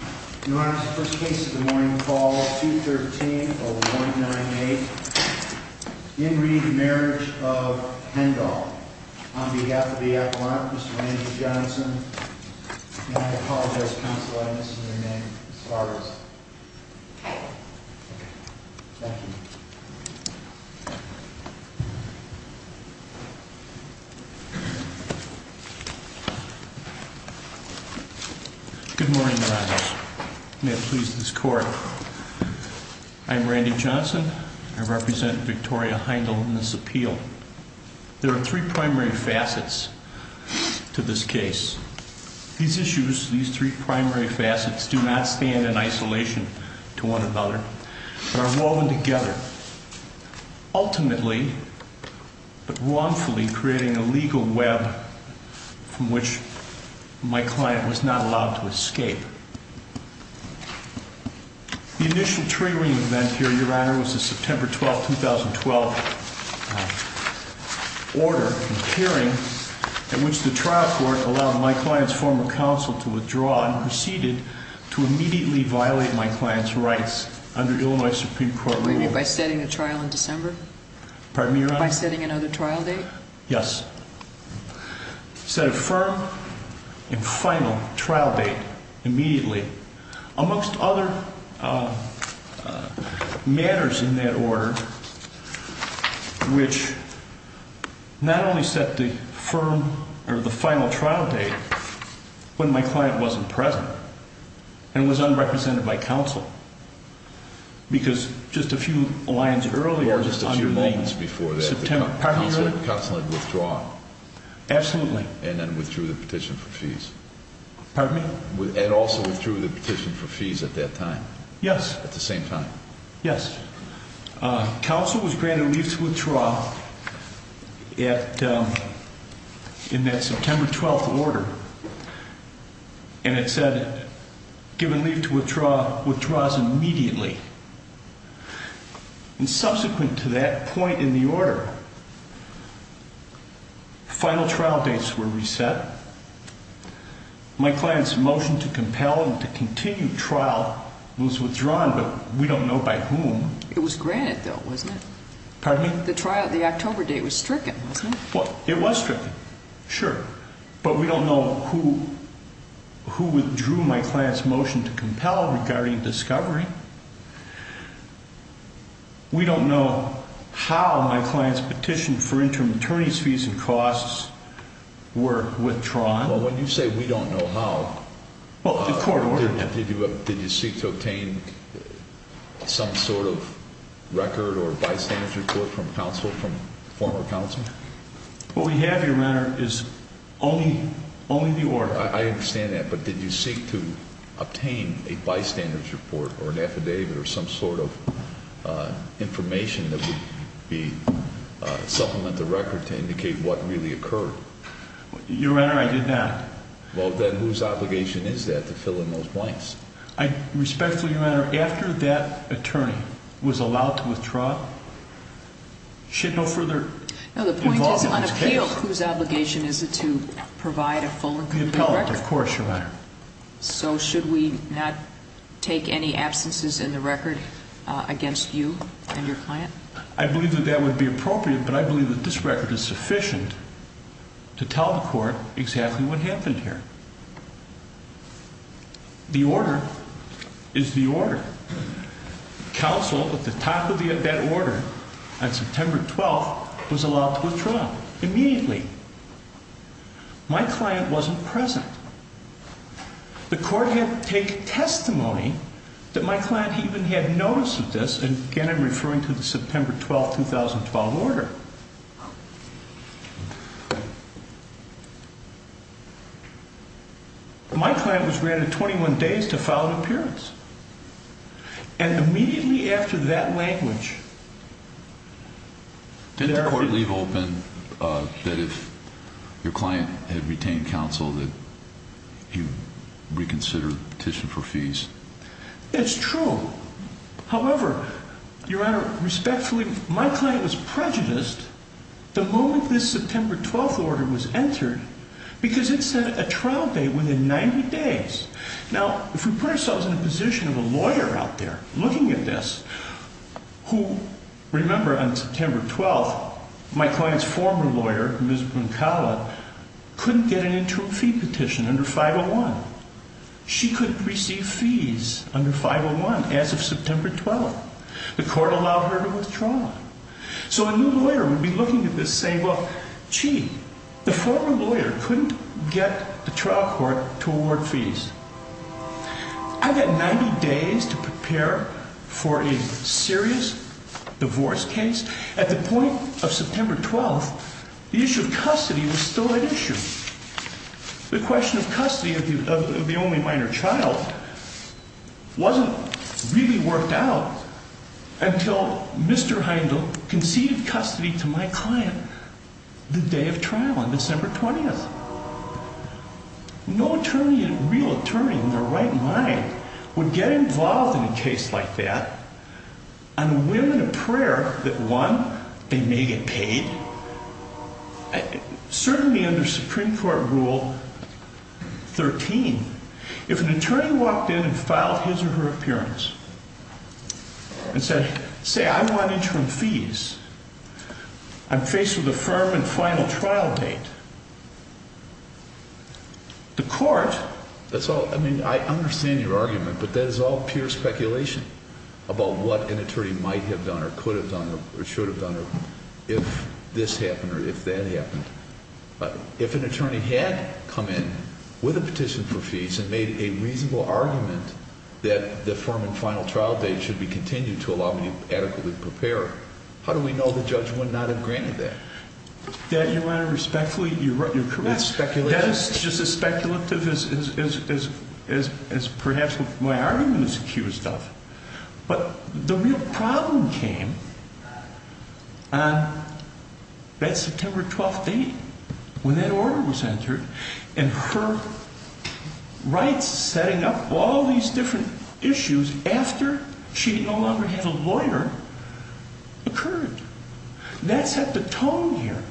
In reading the marriage of Hendel on behalf of the appellant, Mr. Andrew Johnson, and I apologize, counsel, I miss your name as far as, thank you. Good morning, your honors. May it please this court. I'm Randy Johnson. I represent Victoria Hendel in this appeal. There are three primary facets to this case. These issues, these three primary facets do not stand in isolation to one another. They are woven together, ultimately, but wrongfully, creating a legal web from which my client was not allowed to escape. The initial triggering event here, your honor, was the September 12, 2012 order in the hearing in which the trial court allowed my client's former counsel to withdraw and proceeded to immediately violate my client's rights under Illinois Supreme Court rules. By setting a trial in December? Pardon me, your honor? By setting another trial date? Yes. Set a firm and final trial date immediately, amongst other matters in that order, which not only set the firm or the final trial date when my client wasn't present and was unrepresented by counsel. Because just a few lines earlier, just a few moments before that, counsel had withdrawn. Absolutely. And then withdrew the petition for fees. Pardon me? And also withdrew the petition for fees at that time. Yes. At the same time. Yes. Counsel was granted leave to withdraw in that September 12 order. And it said, given leave to withdraw, withdraws immediately. And subsequent to that point in the order, final trial dates were reset. My client's motion to compel and to continue trial was withdrawn, but we don't know by whom. It was granted, though, wasn't it? Pardon me? The trial, the October date was stricken, wasn't it? Well, it was stricken, sure. But we don't know who withdrew my client's motion to compel regarding discovery. We don't know how my client's petition for interim attorney's fees and costs were withdrawn. Well, when you say we don't know how, did you seek to obtain some sort of record or bystander's report from counsel, from former counsel? What we have, Your Honor, is only the order. I understand that, but did you seek to obtain a bystander's report or an affidavit or some sort of information that would supplement the record to indicate what really occurred? Your Honor, I did not. Well, then whose obligation is that to fill in those blanks? Respectfully, Your Honor, after that attorney was allowed to withdraw, she had no further involvement in this case. No, the point is on appeal, whose obligation is it to provide a full and complete record? The appellant, of course, Your Honor. So should we not take any absences in the record against you and your client? I believe that that would be appropriate, but I believe that this record is sufficient to tell the court exactly what happened here. The order is the order. Counsel, at the top of that order, on September 12th, was allowed to withdraw immediately. My client wasn't present. The court had to take testimony that my client even had notice of this. And again, I'm referring to the September 12th, 2012 order. My client was granted 21 days to file an appearance. And immediately after that language, there are... He reconsidered the petition for fees. It's true. However, Your Honor, respectfully, my client was prejudiced the moment this September 12th order was entered because it set a trial date within 90 days. Now, if we put ourselves in the position of a lawyer out there looking at this, who... Remember, on September 12th, my client's former lawyer, Ms. Bunkala, couldn't get an interim fee petition under 501. She couldn't receive fees under 501 as of September 12th. The court allowed her to withdraw. So a new lawyer would be looking at this saying, well, gee, the former lawyer couldn't get the trial court to award fees. I've got 90 days to prepare for a serious divorce case. At the point of September 12th, the issue of custody was still at issue. The question of custody of the only minor child wasn't really worked out until Mr. Heindel conceded custody to my client the day of trial on December 20th. No attorney, real attorney, in their right mind would get involved in a case like that and win a prayer that, one, they may get paid. Certainly under Supreme Court Rule 13, if an attorney walked in and filed his or her appearance and said, say, I want interim fees, I'm faced with a firm and final trial date, the court... If this happened or if that happened, if an attorney had come in with a petition for fees and made a reasonable argument that the firm and final trial date should be continued to allow me to adequately prepare, how do we know the judge would not have granted that? That, Your Honor, respectfully, you're correct. That is just as speculative as perhaps my argument is accused of. But the real problem came on that September 12th date when that order was entered and her rights setting up all these different issues after she no longer had a lawyer occurred. That set the tone here.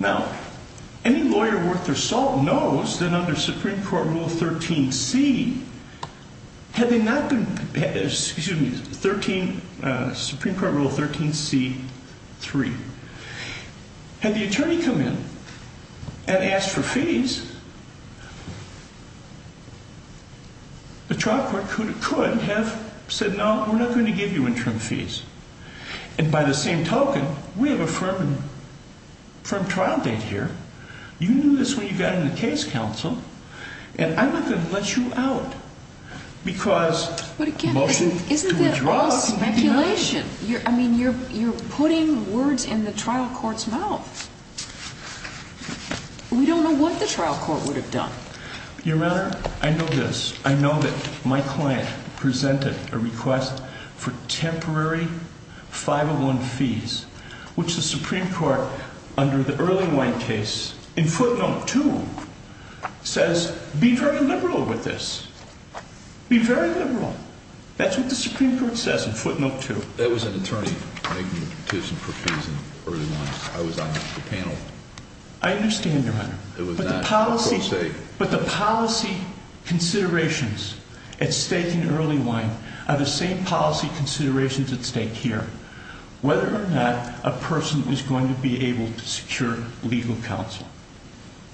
Now, any lawyer worth their salt knows that under Supreme Court Rule 13C, had they not been prepared, excuse me, 13, Supreme Court Rule 13C-3, had the attorney come in and asked for fees, the trial court could have said, no, we're not going to give you interim fees. And by the same token, we have a firm trial date here. You knew this when you got in the case, counsel, and I'm not going to let you out because... But again, isn't that all speculation? I mean, you're putting words in the trial court's mouth. We don't know what the trial court would have done. Your Honor, I know this. I know that my client presented a request for temporary 501 fees, which the Supreme Court, under the early one case, in footnote 2, says, be very liberal with this. Be very liberal. That's what the Supreme Court says in footnote 2. That was an attorney making a petition for fees in early one. I understand, Your Honor. But the policy considerations at stake in early one are the same policy considerations at stake here, whether or not a person is going to be able to secure legal counsel.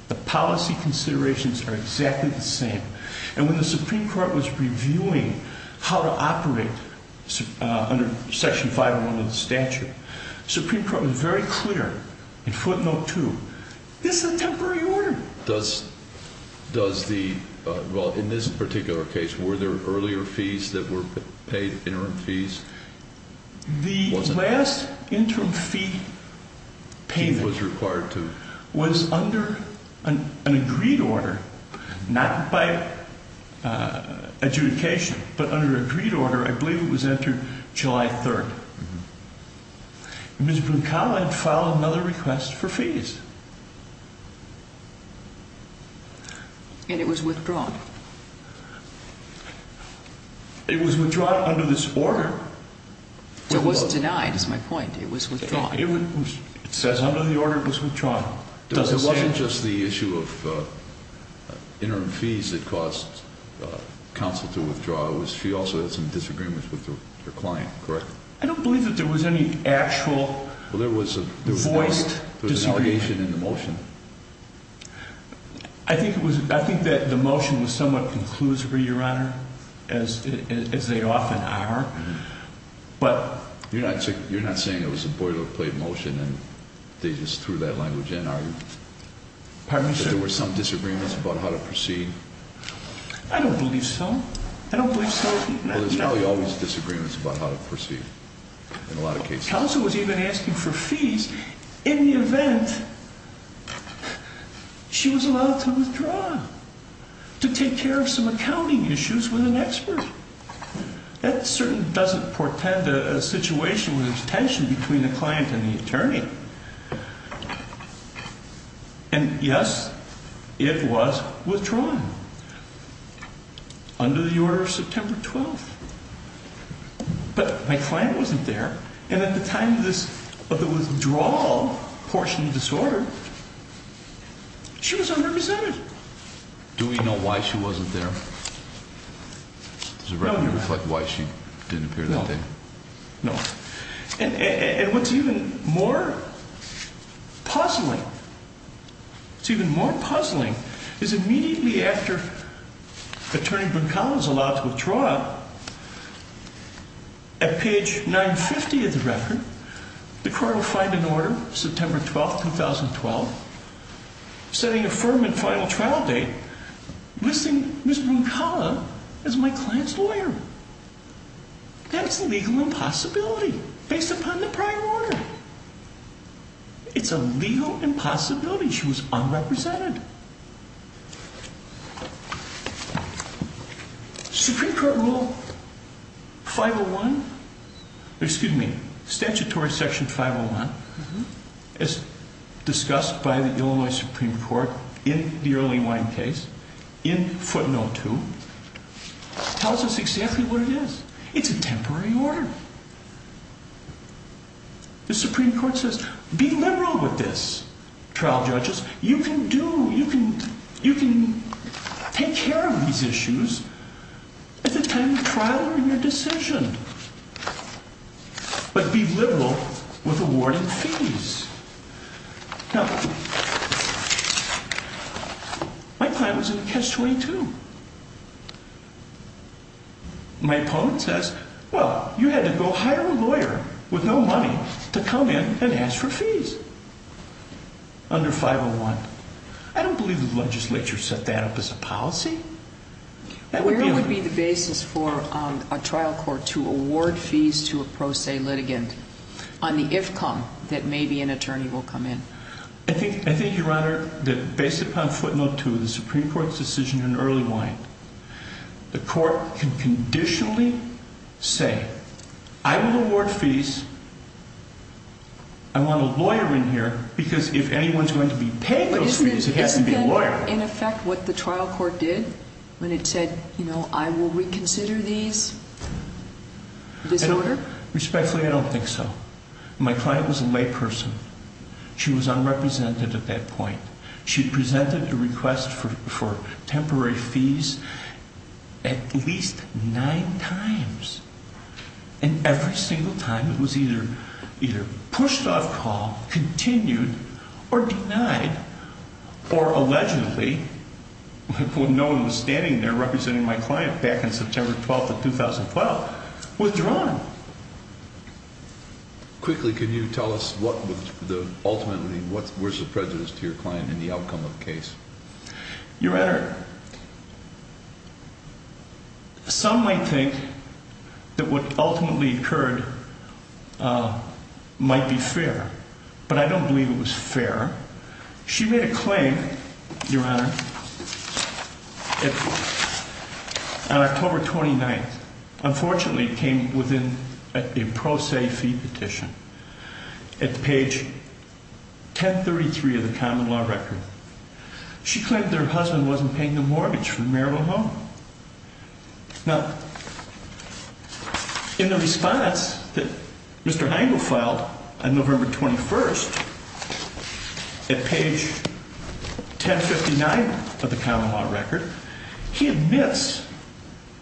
The policy considerations are exactly the same. And when the Supreme Court was reviewing how to operate under section 501 of the statute, the Supreme Court was very clear in footnote 2, this is a temporary order. Does the... Well, in this particular case, were there earlier fees that were paid, interim fees? The last interim fee payment... Fee was required to... ...was under an agreed order, not by adjudication, but under an agreed order. I believe it was after July 3rd. Ms. Brincal had filed another request for fees. And it was withdrawn? It was withdrawn under this order. It was denied, is my point. It was withdrawn. It says under the order it was withdrawn. It wasn't just the issue of interim fees that caused counsel to withdraw. She also had some disagreements with her client, correct? I don't believe that there was any actual voiced disagreement. There was an allegation in the motion. I think that the motion was somewhat conclusive, Your Honor, as they often are. But... You're not saying it was a boilerplate motion and they just threw that language in, are you? Pardon me, sir? That there were some disagreements about how to proceed? I don't believe so. I don't believe so. Well, there's probably always disagreements about how to proceed, in a lot of cases. Counsel was even asking for fees in the event she was allowed to withdraw, to take care of some accounting issues with an expert. That certainly doesn't portend a situation with detention between the client and the attorney. And, yes, it was withdrawn under the order of September 12th. But my client wasn't there, and at the time of the withdrawal portion of the disorder, she was unrepresented. Do we know why she wasn't there? Does the record reflect why she didn't appear that day? No. No. And what's even more puzzling, it's even more puzzling, is immediately after Attorney Bruncala is allowed to withdraw, at page 950 of the record, the court will find an order, September 12th, 2012, setting a firm and final trial date, listing Ms. Bruncala as my client's lawyer. That's a legal impossibility, based upon the prior order. It's a legal impossibility she was unrepresented. And Supreme Court Rule 501, excuse me, Statutory Section 501, as discussed by the Illinois Supreme Court in the Early Wine case, in footnote 2, tells us exactly what it is. It's a temporary order. The Supreme Court says, be liberal with this, trial judges. You can do, you can, you can take care of these issues at the time of trial or in your decision. But be liberal with awarding fees. Now, my client was in Catch-22. My opponent says, well, you had to go hire a lawyer with no money to come in and ask for fees under 501. I don't believe the legislature set that up as a policy. Where would be the basis for a trial court to award fees to a pro se litigant on the if-come that maybe an attorney will come in? I think, I think, Your Honor, that based upon footnote 2 of the Supreme Court's decision in Early Wine, the court can conditionally say, I will award fees. I want a lawyer in here because if anyone's going to be paying those fees, it has to be a lawyer. Isn't that in effect what the trial court did when it said, you know, I will reconsider these disorder? Respectfully, I don't think so. My client was a layperson. She was unrepresented at that point. She presented a request for temporary fees at least nine times. And every single time, it was either pushed off call, continued, or denied, or allegedly, when no one was standing there representing my client back in September 12th of 2012, withdrawn. Quickly, can you tell us what was the ultimately, what was the prejudice to your client in the outcome of the case? Your Honor, some might think that what ultimately occurred might be fair, but I don't believe it was fair. She made a claim, Your Honor, on October 29th. Unfortunately, it came within a pro se fee petition at page 1033 of the common law record. She claimed that her husband wasn't paying the mortgage for the marital home. Now, in the response that Mr. Heingold filed on November 21st at page 1059 of the common law record, he admits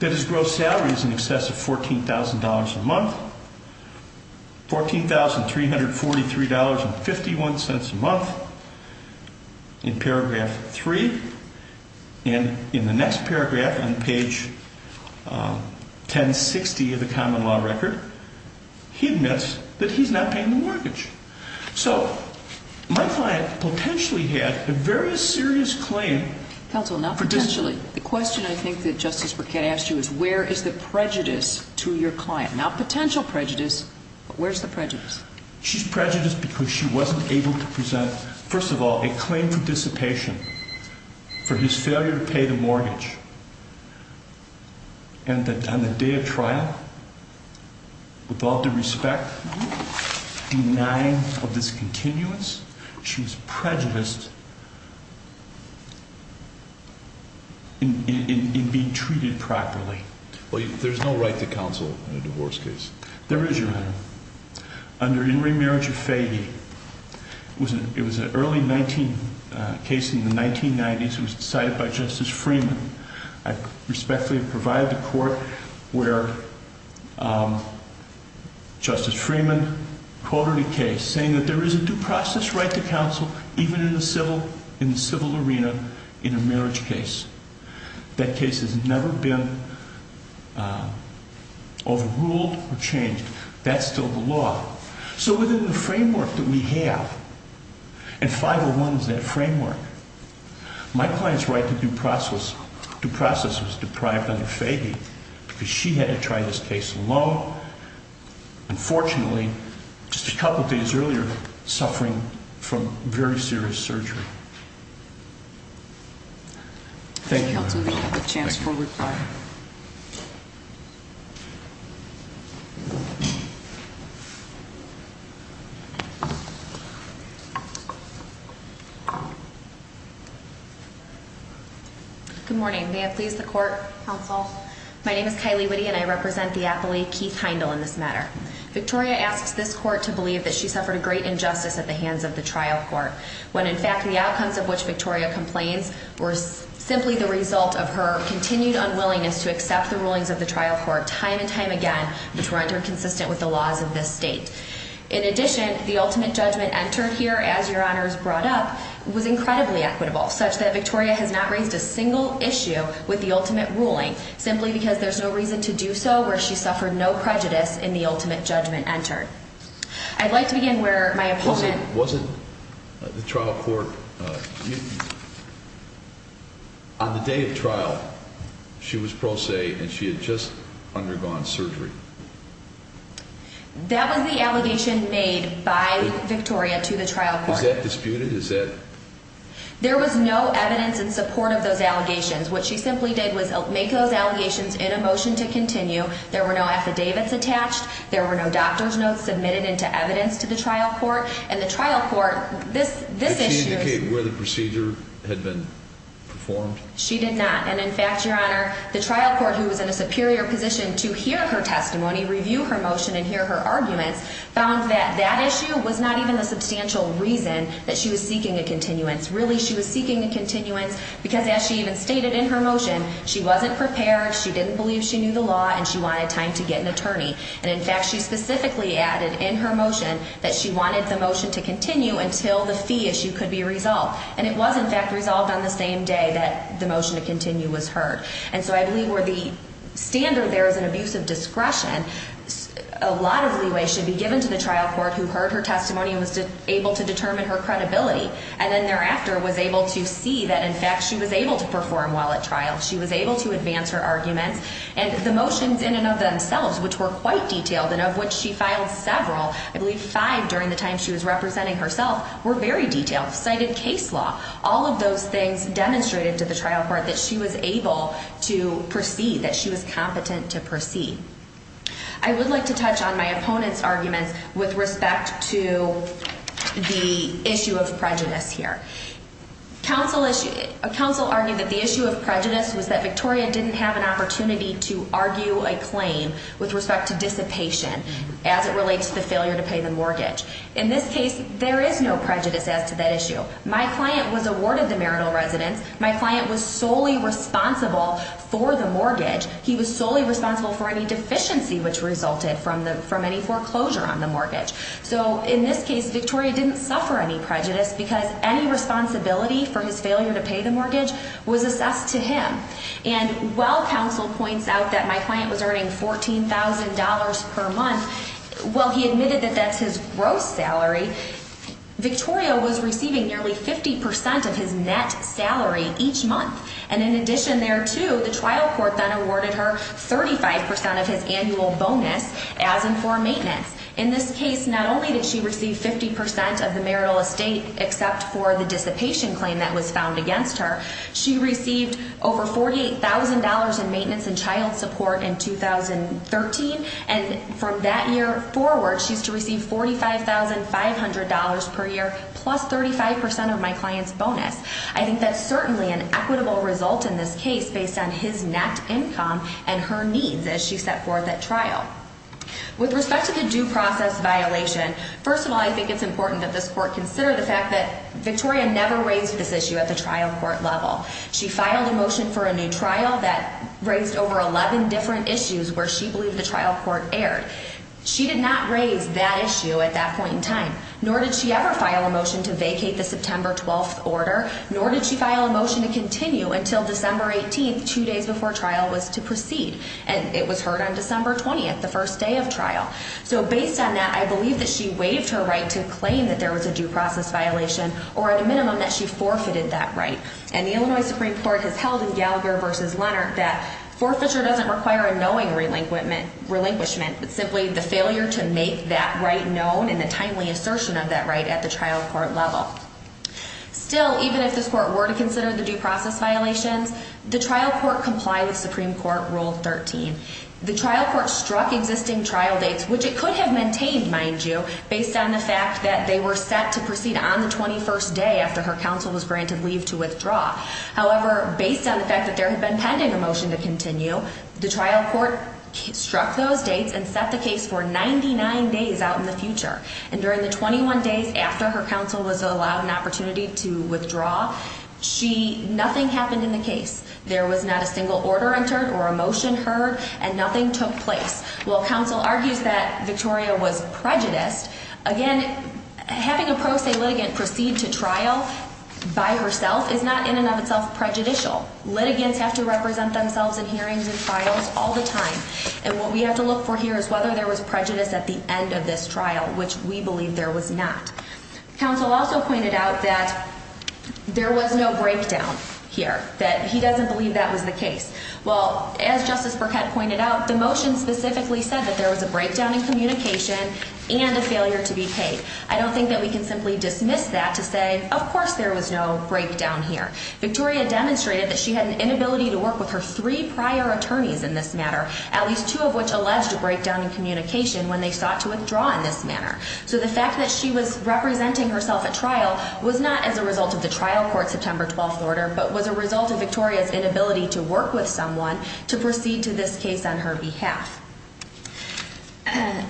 that his gross salary is in excess of $14,000 a month, $14,343.51 a month in paragraph three. And in the next paragraph on page 1060 of the common law record, he admits that he's not paying the mortgage. So, my client potentially had a very serious claim. Counsel, not potentially. The question I think that Justice Burkett asked you is where is the prejudice to your client? Not potential prejudice, but where's the prejudice? She's prejudiced because she wasn't able to present, first of all, a claim for dissipation for his failure to pay the mortgage. And that on the day of trial, with all due respect, denying of this continuance, she's prejudiced in being treated properly. There's no right to counsel in a divorce case. Under In Re Marriage of Fahey, it was an early case in the 1990s. It was decided by Justice Freeman. I respectfully provide the court where Justice Freeman quoted a case saying that there is a due process right to counsel, even in the civil arena, in a marriage case. That case has never been overruled or changed. That's still the law. So, within the framework that we have, and 501 is that framework, my client's right to due process was deprived under Fahey because she had to try this case alone. Unfortunately, just a couple of days earlier, suffering from very serious surgery. Thank you. I'll give you a chance for reply. Good morning. May I please the court? Counsel. My name is Kylie Witte and I represent the appellee, Keith Heindel, in this matter. Victoria asks this court to believe that she suffered a great injustice at the hands of the trial court when, in fact, the outcomes of which Victoria complains were simply the result of her continued unwillingness to accept the rulings of the trial court time and time again, which were under consistent with the laws of this state. In addition, the ultimate judgment entered here, as your honors brought up, was incredibly equitable, such that Victoria has not raised a single issue with the ultimate ruling, simply because there's no reason to do so where she suffered no prejudice in the ultimate judgment entered. I'd like to begin where my opponent... Wasn't the trial court... On the day of trial, she was pro se and she had just undergone surgery. That was the allegation made by Victoria to the trial court. Was that disputed? Is that... There was no evidence in support of those allegations. What she simply did was make those allegations in a motion to continue. There were no affidavits attached. There were no doctor's notes submitted into evidence to the trial court. And the trial court... Did she indicate where the procedure had been performed? She did not. And, in fact, your honor, the trial court, who was in a superior position to hear her testimony, review her motion and hear her arguments, found that that issue was not even the substantial reason that she was seeking a continuance. Really, she was seeking a continuance because, as she even stated in her motion, she wasn't prepared, she didn't believe she knew the law, and she wanted time to get an attorney. And, in fact, she specifically added in her motion that she wanted the motion to continue until the fee issue could be resolved. And it was, in fact, resolved on the same day that the motion to continue was heard. And so I believe where the standard there is an abuse of discretion, a lot of leeway should be given to the trial court who heard her testimony and was able to determine her credibility and then thereafter was able to see that, in fact, she was able to perform well at trial. She was able to advance her arguments. And the motions in and of themselves, which were quite detailed and of which she filed several, I believe five during the time she was representing herself, were very detailed. Cited case law, all of those things demonstrated to the trial court that she was able to proceed, that she was competent to proceed. I would like to touch on my opponent's arguments with respect to the issue of prejudice here. A counsel argued that the issue of prejudice was that Victoria didn't have an opportunity to argue a claim with respect to dissipation as it relates to the failure to pay the mortgage. In this case, there is no prejudice as to that issue. My client was awarded the marital residence. My client was solely responsible for the mortgage. He was solely responsible for any deficiency which resulted from any foreclosure on the mortgage. So in this case, Victoria didn't suffer any prejudice because any responsibility for his failure to pay the mortgage was assessed to him. And while counsel points out that my client was earning $14,000 per month, while he admitted that that's his gross salary, Victoria was receiving nearly 50% of his net salary each month. And in addition there too, the trial court then awarded her 35% of his annual bonus as and for maintenance. In this case, not only did she receive 50% of the marital estate except for the dissipation claim that was found against her, she received over $48,000 in maintenance and child support in 2013. And from that year forward, she's to receive $45,500 per year plus 35% of my client's bonus. I think that's certainly an equitable result in this case based on his net income and her needs as she set forth at trial. With respect to the due process violation, first of all I think it's important that this court consider the fact that Victoria never raised this issue at the trial court level. She filed a motion for a new trial that raised over 11 different issues where she believed the trial court erred. She did not raise that issue at that point in time, nor did she ever file a motion to vacate the September 12th order, nor did she file a motion to continue until December 18th, two days before trial was to proceed. And it was heard on December 20th, the first day of trial. So based on that, I believe that she waived her right to claim that there was a due process violation or at a minimum that she forfeited that right. And the Illinois Supreme Court has held in Gallagher v. Leonard that forfeiture doesn't require a knowing relinquishment, but simply the failure to make that right known and the timely assertion of that right at the trial court level. Still, even if this court were to consider the due process violations, the trial court complied with Supreme Court Rule 13. The trial court struck existing trial dates, which it could have maintained, mind you, based on the fact that they were set to proceed on the 21st day after her counsel was granted leave to withdraw. However, based on the fact that there had been pending a motion to continue, the trial court struck those dates and set the case for 99 days out in the future. And during the 21 days after her counsel was allowed an opportunity to withdraw, nothing happened in the case. There was not a single order entered or a motion heard, and nothing took place. While counsel argues that Victoria was prejudiced, again, having a pro se litigant proceed to trial by herself is not in and of itself prejudicial. Litigants have to represent themselves in hearings and trials all the time. And what we have to look for here is whether there was prejudice at the end of this trial, which we believe there was not. Counsel also pointed out that there was no breakdown here, that he doesn't believe that was the case. Well, as Justice Burkett pointed out, the motion specifically said that there was a breakdown in communication and a failure to be paid. I don't think that we can simply dismiss that to say, of course there was no breakdown here. Victoria demonstrated that she had an inability to work with her three prior attorneys in this matter, at least two of which alleged a breakdown in communication when they sought to withdraw in this manner. So the fact that she was representing herself at trial was not as a result of the trial court September 12th order, but was a result of Victoria's inability to work with someone to proceed to this case on her behalf.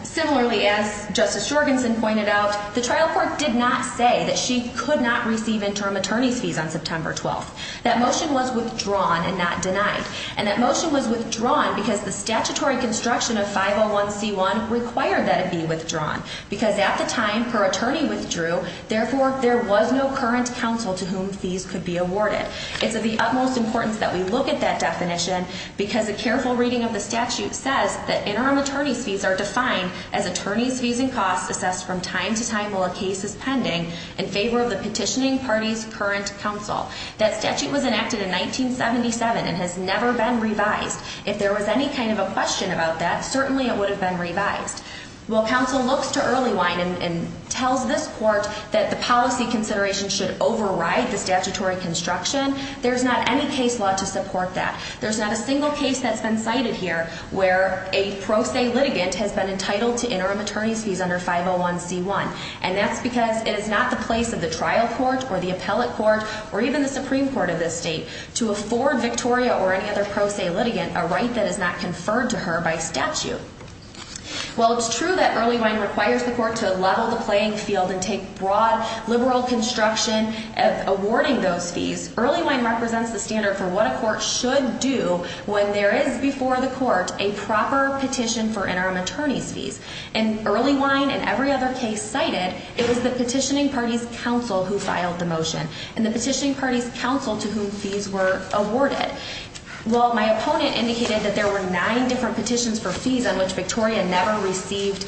Similarly, as Justice Jorgensen pointed out, the trial court did not say that she could not receive interim attorney's fees on September 12th. That motion was withdrawn and not denied. And that motion was withdrawn because the statutory construction of 501c1 required that it be withdrawn, because at the time her attorney withdrew, therefore there was no current counsel to whom fees could be awarded. It's of the utmost importance that we look at that definition, because a careful reading of the statute says that interim attorney's fees are defined as attorneys' fees and costs assessed from time to time while a case is pending, in favor of the petitioning party's current counsel. That statute was enacted in 1977 and has never been revised. If there was any kind of a question about that, certainly it would have been revised. While counsel looks to Earlywine and tells this court that the policy consideration should override the statutory construction, there's not any case law to support that. There's not a single case that's been cited here where a pro se litigant has been entitled to interim attorney's fees under 501c1. And that's because it is not the place of the trial court or the appellate court or even the Supreme Court of this state to afford Victoria or any other pro se litigant a right that is not conferred to her by statute. While it's true that Earlywine requires the court to level the playing field and take broad liberal construction of awarding those fees, Earlywine represents the standard for what a court should do when there is before the court a proper petition for interim attorney's fees. And Earlywine and every other case cited, it was the petitioning party's counsel who filed the motion and the petitioning party's counsel to whom fees were awarded. Well, my opponent indicated that there were nine different petitions for fees on which Victoria never received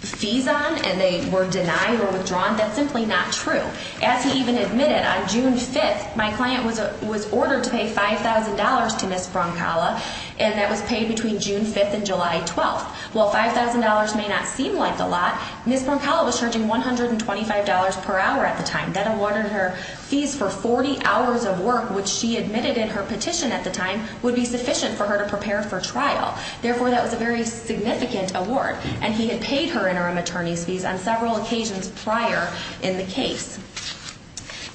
fees on and they were denied or withdrawn. That's simply not true. As he even admitted, on June 5th, my client was ordered to pay $5,000 to Ms. Brancala, and that was paid between June 5th and July 12th. While $5,000 may not seem like a lot, Ms. Brancala was charging $125 per hour at the time. That awarded her fees for 40 hours of work, which she admitted in her petition at the time, would be sufficient for her to prepare for trial. Therefore, that was a very significant award, and he had paid her interim attorney's fees on several occasions prior in the case.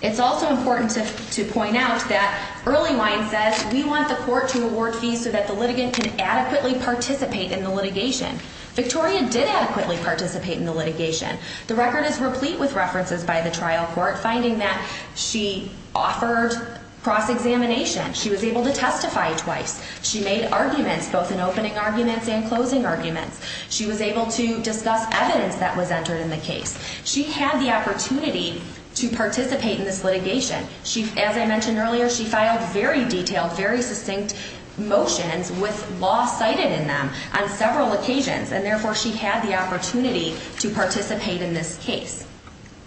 It's also important to point out that Earlywine says, we want the court to award fees so that the litigant can adequately participate in the litigation. Victoria did adequately participate in the litigation. The record is replete with references by the trial court finding that she offered cross-examination. She was able to testify twice. She made arguments, both in opening arguments and closing arguments. She was able to discuss evidence that was entered in the case. She had the opportunity to participate in this litigation. As I mentioned earlier, she filed very detailed, very succinct motions with law cited in them on several occasions, and therefore she had the opportunity to participate in this case.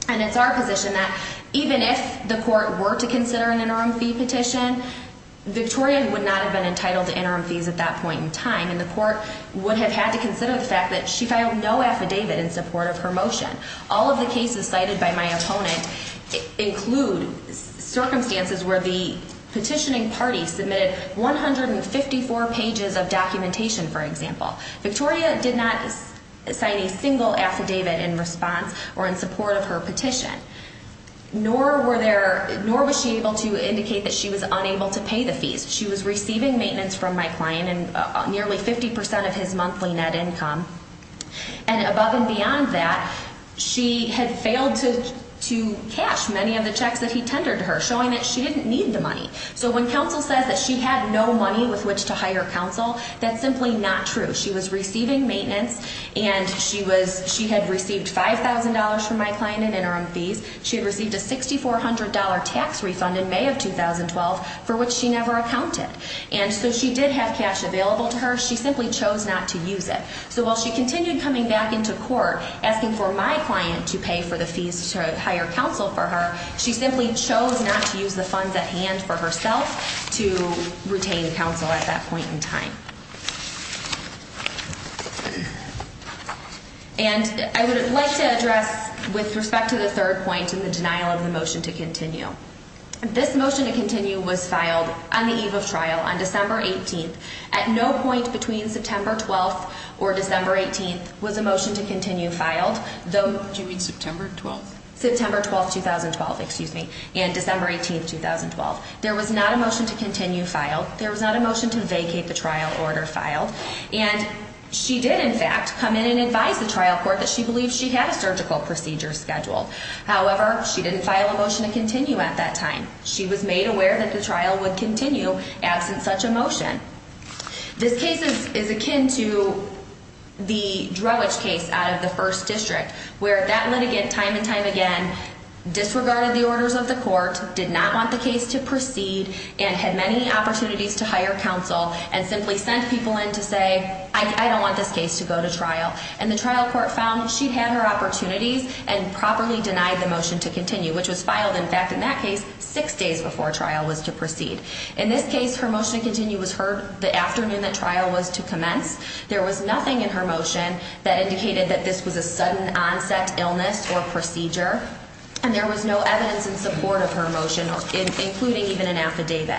And it's our position that even if the court were to consider an interim fee petition, Victoria would not have been entitled to interim fees at that point in time, and the court would have had to consider the fact that she filed no affidavit in support of her motion. All of the cases cited by my opponent include circumstances where the petitioning party submitted 154 pages of documentation, for example. Victoria did not sign a single affidavit in response or in support of her petition, nor was she able to indicate that she was unable to pay the fees. She was receiving maintenance from my client and nearly 50% of his monthly net income. And above and beyond that, she had failed to cash many of the checks that he tendered to her, showing that she didn't need the money. So when counsel says that she had no money with which to hire counsel, that's simply not true. She was receiving maintenance, and she had received $5,000 from my client in interim fees. She had received a $6,400 tax refund in May of 2012, for which she never accounted. And so she did have cash available to her. She simply chose not to use it. So while she continued coming back into court asking for my client to pay for the fees to hire counsel for her, she simply chose not to use the funds at hand for herself to retain counsel at that point in time. And I would like to address, with respect to the third point and the denial of the motion to continue, this motion to continue was filed on the eve of trial on December 18th. At no point between September 12th or December 18th was a motion to continue filed. Do you mean September 12th? September 12th, 2012, excuse me, and December 18th, 2012. There was not a motion to continue filed. There was not a motion to vacate the trial order filed. And she did, in fact, come in and advise the trial court that she believed she had a surgical procedure scheduled. However, she didn't file a motion to continue at that time. This case is akin to the Drowage case out of the First District, where that litigant, time and time again, disregarded the orders of the court, did not want the case to proceed, and had many opportunities to hire counsel and simply sent people in to say, I don't want this case to go to trial. And the trial court found she'd had her opportunities and properly denied the motion to continue, which was filed, in fact, in that case, six days before trial was to proceed. In this case, her motion to continue was heard the afternoon that trial was to commence. There was nothing in her motion that indicated that this was a sudden onset illness or procedure. And there was no evidence in support of her motion, including even an affidavit.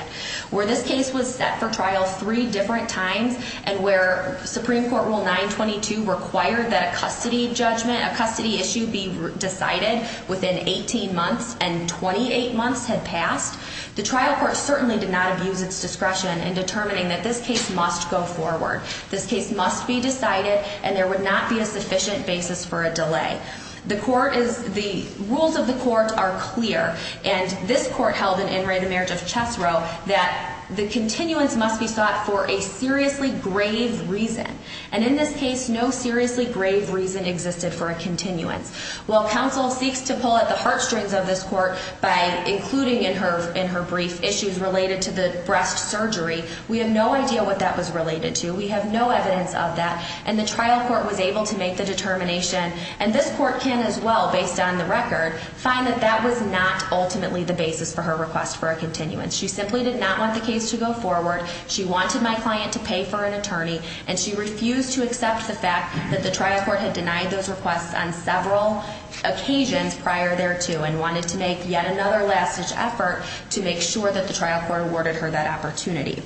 Where this case was set for trial three different times, and where Supreme Court Rule 922 required that a custody judgment, a custody issue be decided within 18 months, and 28 months had passed, the trial court certainly did not abuse its discretion in determining that this case must go forward. This case must be decided, and there would not be a sufficient basis for a delay. The court is, the rules of the court are clear, and this court held in In Re, the Marriage of Chess, wrote that the continuance must be sought for a seriously grave reason. And in this case, no seriously grave reason existed for a continuance. While counsel seeks to pull at the heartstrings of this court by including in her brief issues related to the breast surgery, we have no idea what that was related to. We have no evidence of that, and the trial court was able to make the determination, and this court can as well, based on the record, find that that was not ultimately the basis for her request for a continuance. She simply did not want the case to go forward. She wanted my client to pay for an attorney, and she refused to accept the fact that the trial court had denied those requests on several occasions prior thereto and wanted to make yet another last-ditch effort to make sure that the trial court awarded her that opportunity.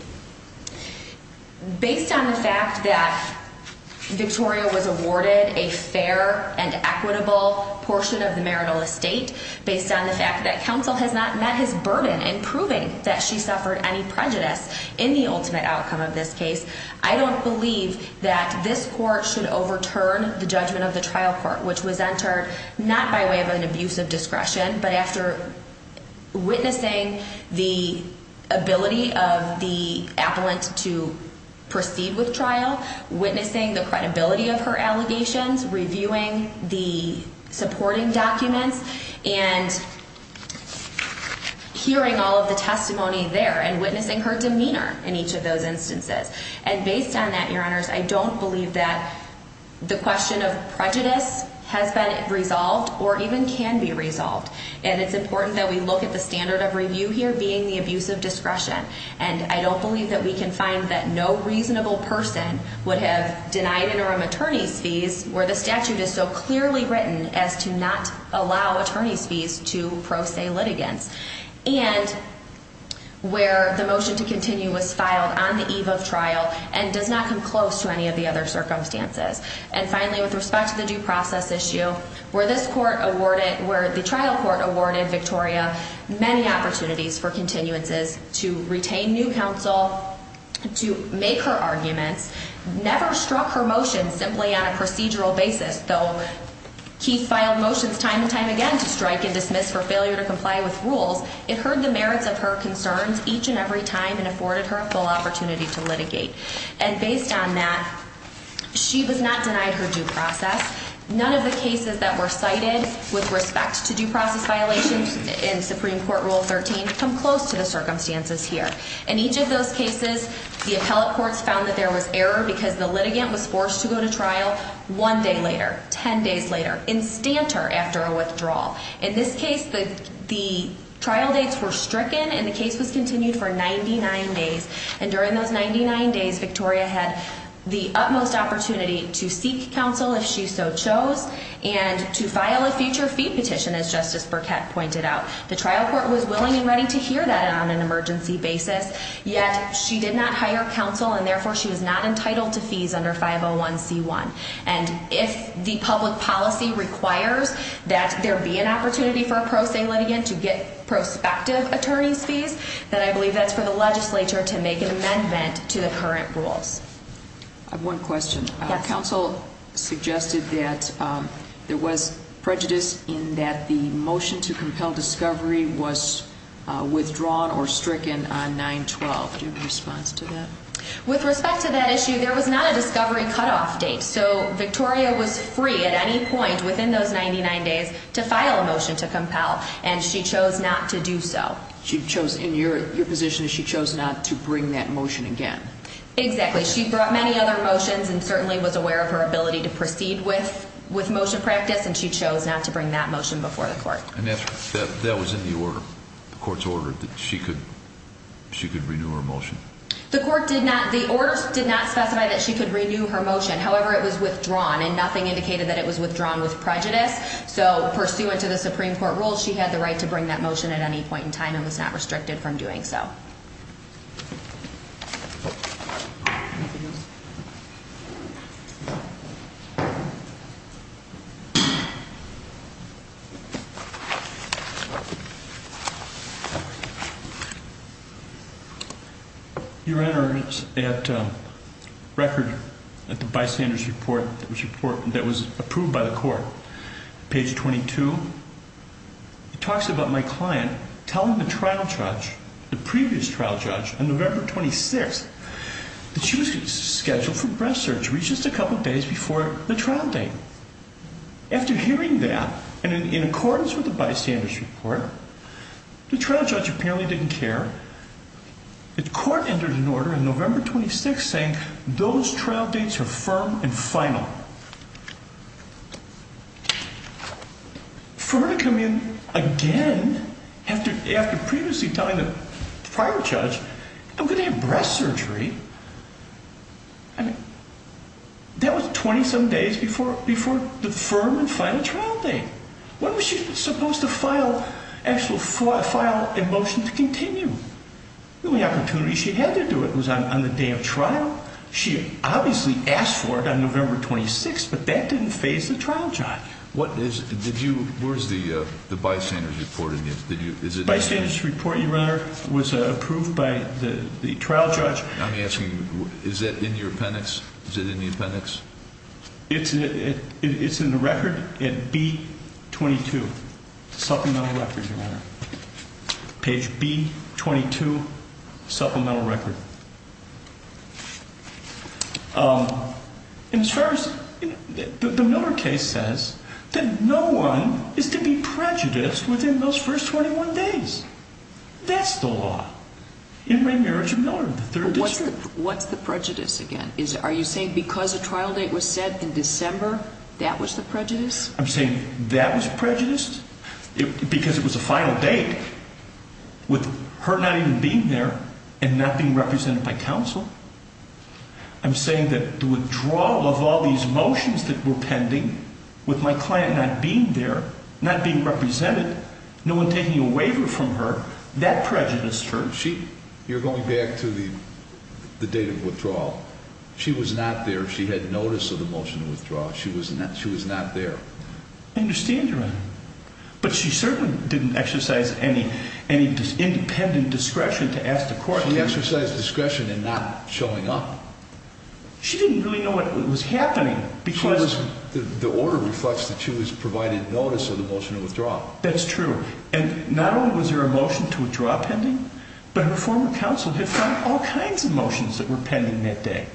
Based on the fact that Victoria was awarded a fair and equitable portion of the marital estate, based on the fact that counsel has not met his burden in proving that she suffered any prejudice in the ultimate outcome of this case, I don't believe that this court should overturn the judgment of the trial court, which was entered not by way of an abuse of discretion, but after witnessing the ability of the appellant to proceed with trial, witnessing the credibility of her allegations, reviewing the supporting documents, and hearing all of the testimony there, and witnessing her demeanor in each of those instances. And based on that, your honors, I don't believe that the question of prejudice has been resolved or even can be resolved. And it's important that we look at the standard of review here being the abuse of discretion. And I don't believe that we can find that no reasonable person would have denied interim attorney's fees where the statute is so clearly written as to not allow attorney's fees to pro se litigants, and where the motion to continue was filed on the eve of trial and does not come close to any of the other circumstances. And finally, with respect to the due process issue, where the trial court awarded Victoria many opportunities for continuances, to retain new counsel, to make her arguments, never struck her motions simply on a procedural basis, though Keith filed motions time and time again to strike and dismiss for failure to comply with rules, it heard the merits of her concerns each and every time and afforded her a full opportunity to litigate. And based on that, she was not denied her due process. None of the cases that were cited with respect to due process violations in Supreme Court Rule 13 come close to the circumstances here. In each of those cases, the appellate courts found that there was error because the litigant was forced to go to trial one day later, 10 days later, and stamped her after a withdrawal. In this case, the trial dates were stricken and the case was continued for 99 days. And during those 99 days, Victoria had the utmost opportunity to seek counsel if she so chose and to file a future fee petition, as Justice Burkett pointed out. The trial court was willing and ready to hear that on an emergency basis, yet she did not hire counsel and therefore she was not entitled to fees under 501c1. And if the public policy requires that there be an opportunity for a pro se litigant to get prospective attorney's fees, then I believe that's for the legislature to make an amendment to the current rules. I have one question. Yes. Counsel suggested that there was prejudice in that the motion to compel discovery was withdrawn or stricken on 9-12. Do you have a response to that? With respect to that issue, there was not a discovery cutoff date. So Victoria was free at any point within those 99 days to file a motion to compel, and she chose not to do so. She chose, in your position, she chose not to bring that motion again. Exactly. She brought many other motions and certainly was aware of her ability to proceed with motion practice, and she chose not to bring that motion before the court. And that was in the order? The court's order that she could renew her motion? The order did not specify that she could renew her motion. However, it was withdrawn, and nothing indicated that it was withdrawn with prejudice. So pursuant to the Supreme Court rules, she had the right to bring that motion at any point in time and was not restricted from doing so. Anything else? Your Honor, it's at record at the bystander's report that was approved by the court, page 22. It talks about my client telling the trial judge, the previous trial judge, on November 26th that she was scheduled for breast surgery just a couple days before the trial date. After hearing that, and in accordance with the bystander's report, the trial judge apparently didn't care. The court entered an order on November 26th saying those trial dates are firm and final. Now, for her to come in again after previously telling the prior judge, I'm going to have breast surgery, I mean, that was 20-some days before the firm and final trial date. When was she supposed to file an actual motion to continue? The only opportunity she had to do it was on the day of trial. She obviously asked for it on November 26th, but that didn't phase the trial judge. Where is the bystander's report in this? The bystander's report, Your Honor, was approved by the trial judge. I'm asking, is that in your appendix? Is it in the appendix? It's in the record at B-22, supplemental record, Your Honor, page B-22, supplemental record. And as far as, the Miller case says that no one is to be prejudiced within those first 21 days. That's the law in remarriage of Miller in the third district. What's the prejudice again? Are you saying because a trial date was set in December, that was the prejudice? I'm saying that was prejudiced because it was a final date with her not even being there and not being represented by counsel. I'm saying that the withdrawal of all these motions that were pending with my client not being there, not being represented, no one taking a waiver from her, that prejudiced her. You're going back to the date of withdrawal. She was not there. She had notice of the motion to withdraw. She was not there. I understand, Your Honor. But she certainly didn't exercise any independent discretion to ask the court to... She exercised discretion in not showing up. She didn't really know what was happening because... The order reflects that she was provided notice of the motion to withdraw. That's true. And not only was there a motion to withdraw pending, but her former counsel had found all kinds of motions that were pending that day.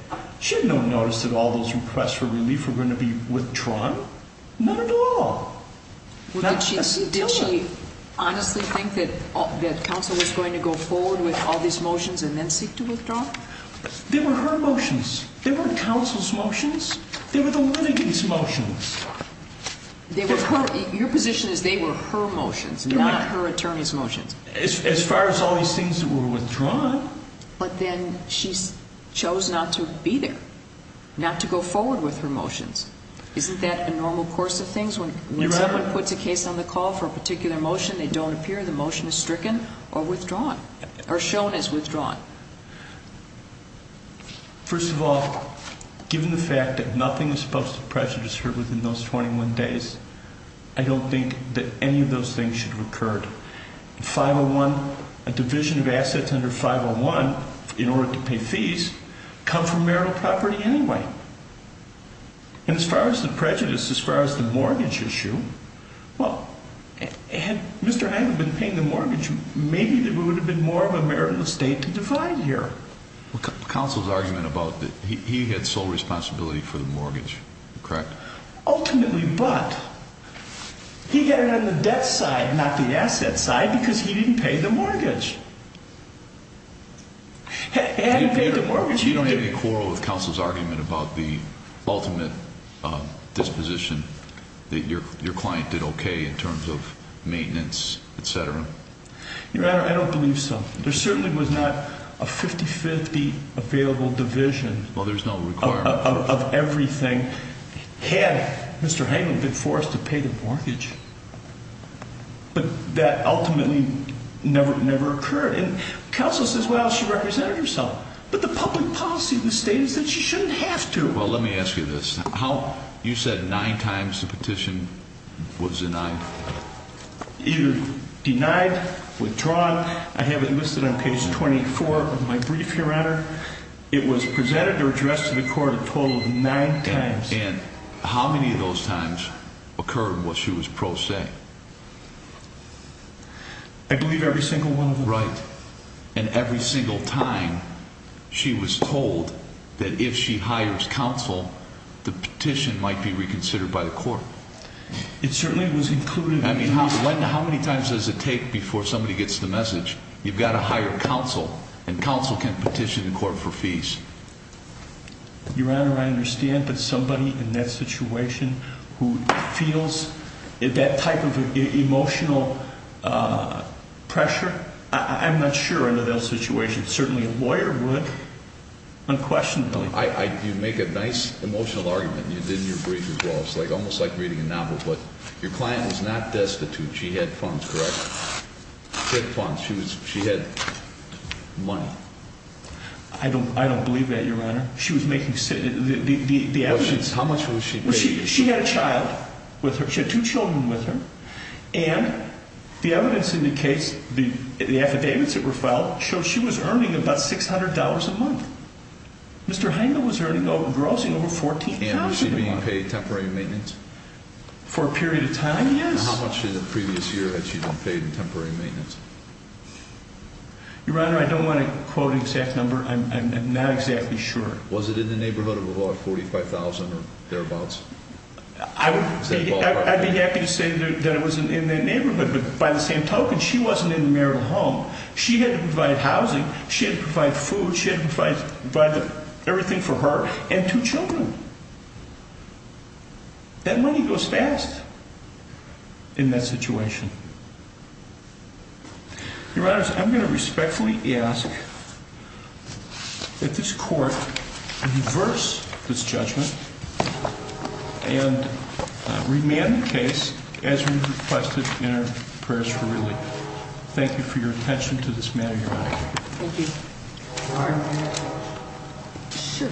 None at all. Did she honestly think that counsel was going to go forward with all these motions and then seek to withdraw? They were her motions. They weren't counsel's motions. They were the witney's motions. Your position is they were her motions, not her attorney's motions. As far as all these things that were withdrawn. But then she chose not to be there, not to go forward with her motions. Isn't that a normal course of things? When someone puts a case on the call for a particular motion, they don't appear. The motion is stricken or withdrawn, or shown as withdrawn. First of all, given the fact that nothing is supposed to prejudice her within those 21 days, I don't think that any of those things should have occurred. 501, a division of assets under 501 in order to pay fees, come from marital property anyway. And as far as the prejudice, as far as the mortgage issue, well, had Mr. Heine been paying the mortgage, maybe there would have been more of a marital estate to divide here. Counsel's argument about that he had sole responsibility for the mortgage, correct? Ultimately, but he got it on the debt side, not the asset side, because he didn't pay the mortgage. He hadn't paid the mortgage. You don't have any quarrel with counsel's argument about the ultimate disposition, that your client did okay in terms of maintenance, etc.? Your Honor, I don't believe so. There certainly was not a 50-50 available division of everything had Mr. Heine been forced to pay the mortgage. But that ultimately never occurred. And counsel says, well, she represented herself. But the public policy of the state is that she shouldn't have to. Well, let me ask you this. You said nine times the petition was denied? Denied, withdrawn. I have it listed on page 24 of my brief, Your Honor. It was presented or addressed to the court a total of nine times. And how many of those times occurred while she was pro se? I believe every single one of them. Right. And every single time she was told that if she hires counsel, the petition might be reconsidered by the court? It certainly was included. I mean, how many times does it take before somebody gets the message? You've got to hire counsel, and counsel can petition the court for fees. Your Honor, I understand. But somebody in that situation who feels that type of emotional pressure, I'm not sure under those situations. Certainly a lawyer would unquestionably. You make a nice emotional argument. You did in your brief as well. It's almost like reading a novel. But your client was not destitute. She had funds, correct? She had funds. She had money. I don't believe that, Your Honor. The evidence. How much was she paid? She had a child with her. She had two children with her. And the evidence indicates, the affidavits that were filed, show she was earning about $600 a month. Mr. Heine was earning, grossing over $14,000 a month. And was she being paid temporary maintenance? For a period of time, yes. How much in the previous year had she been paid in temporary maintenance? Your Honor, I don't want to quote an exact number. I'm not exactly sure. Was it in the neighborhood of about $45,000 or thereabouts? I'd be happy to say that it was in that neighborhood. But by the same token, she wasn't in the marital home. She had to provide housing. She had to provide food. She had to provide everything for her and two children. That money goes fast in that situation. Your Honor, I'm going to respectfully ask that this Court reverse this judgment and remand the case as requested in our prayers for relief. Thank you for your attention to this matter, Your Honor. Thank you. Your Honor, can I have a moment? Sure.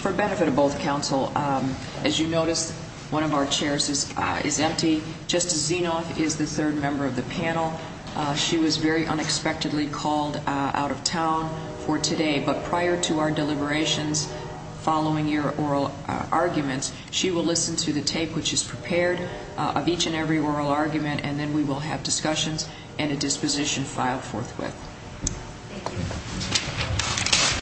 For benefit of both counsel, as you notice, one of our chairs is empty. Justice Zinoff is the third member of the panel. She was very unexpectedly called out of town for today. But prior to our deliberations following your oral arguments, she will listen to the tape, which is prepared, of each and every oral argument, and then we will have discussions and a disposition filed forthwith. Thank you.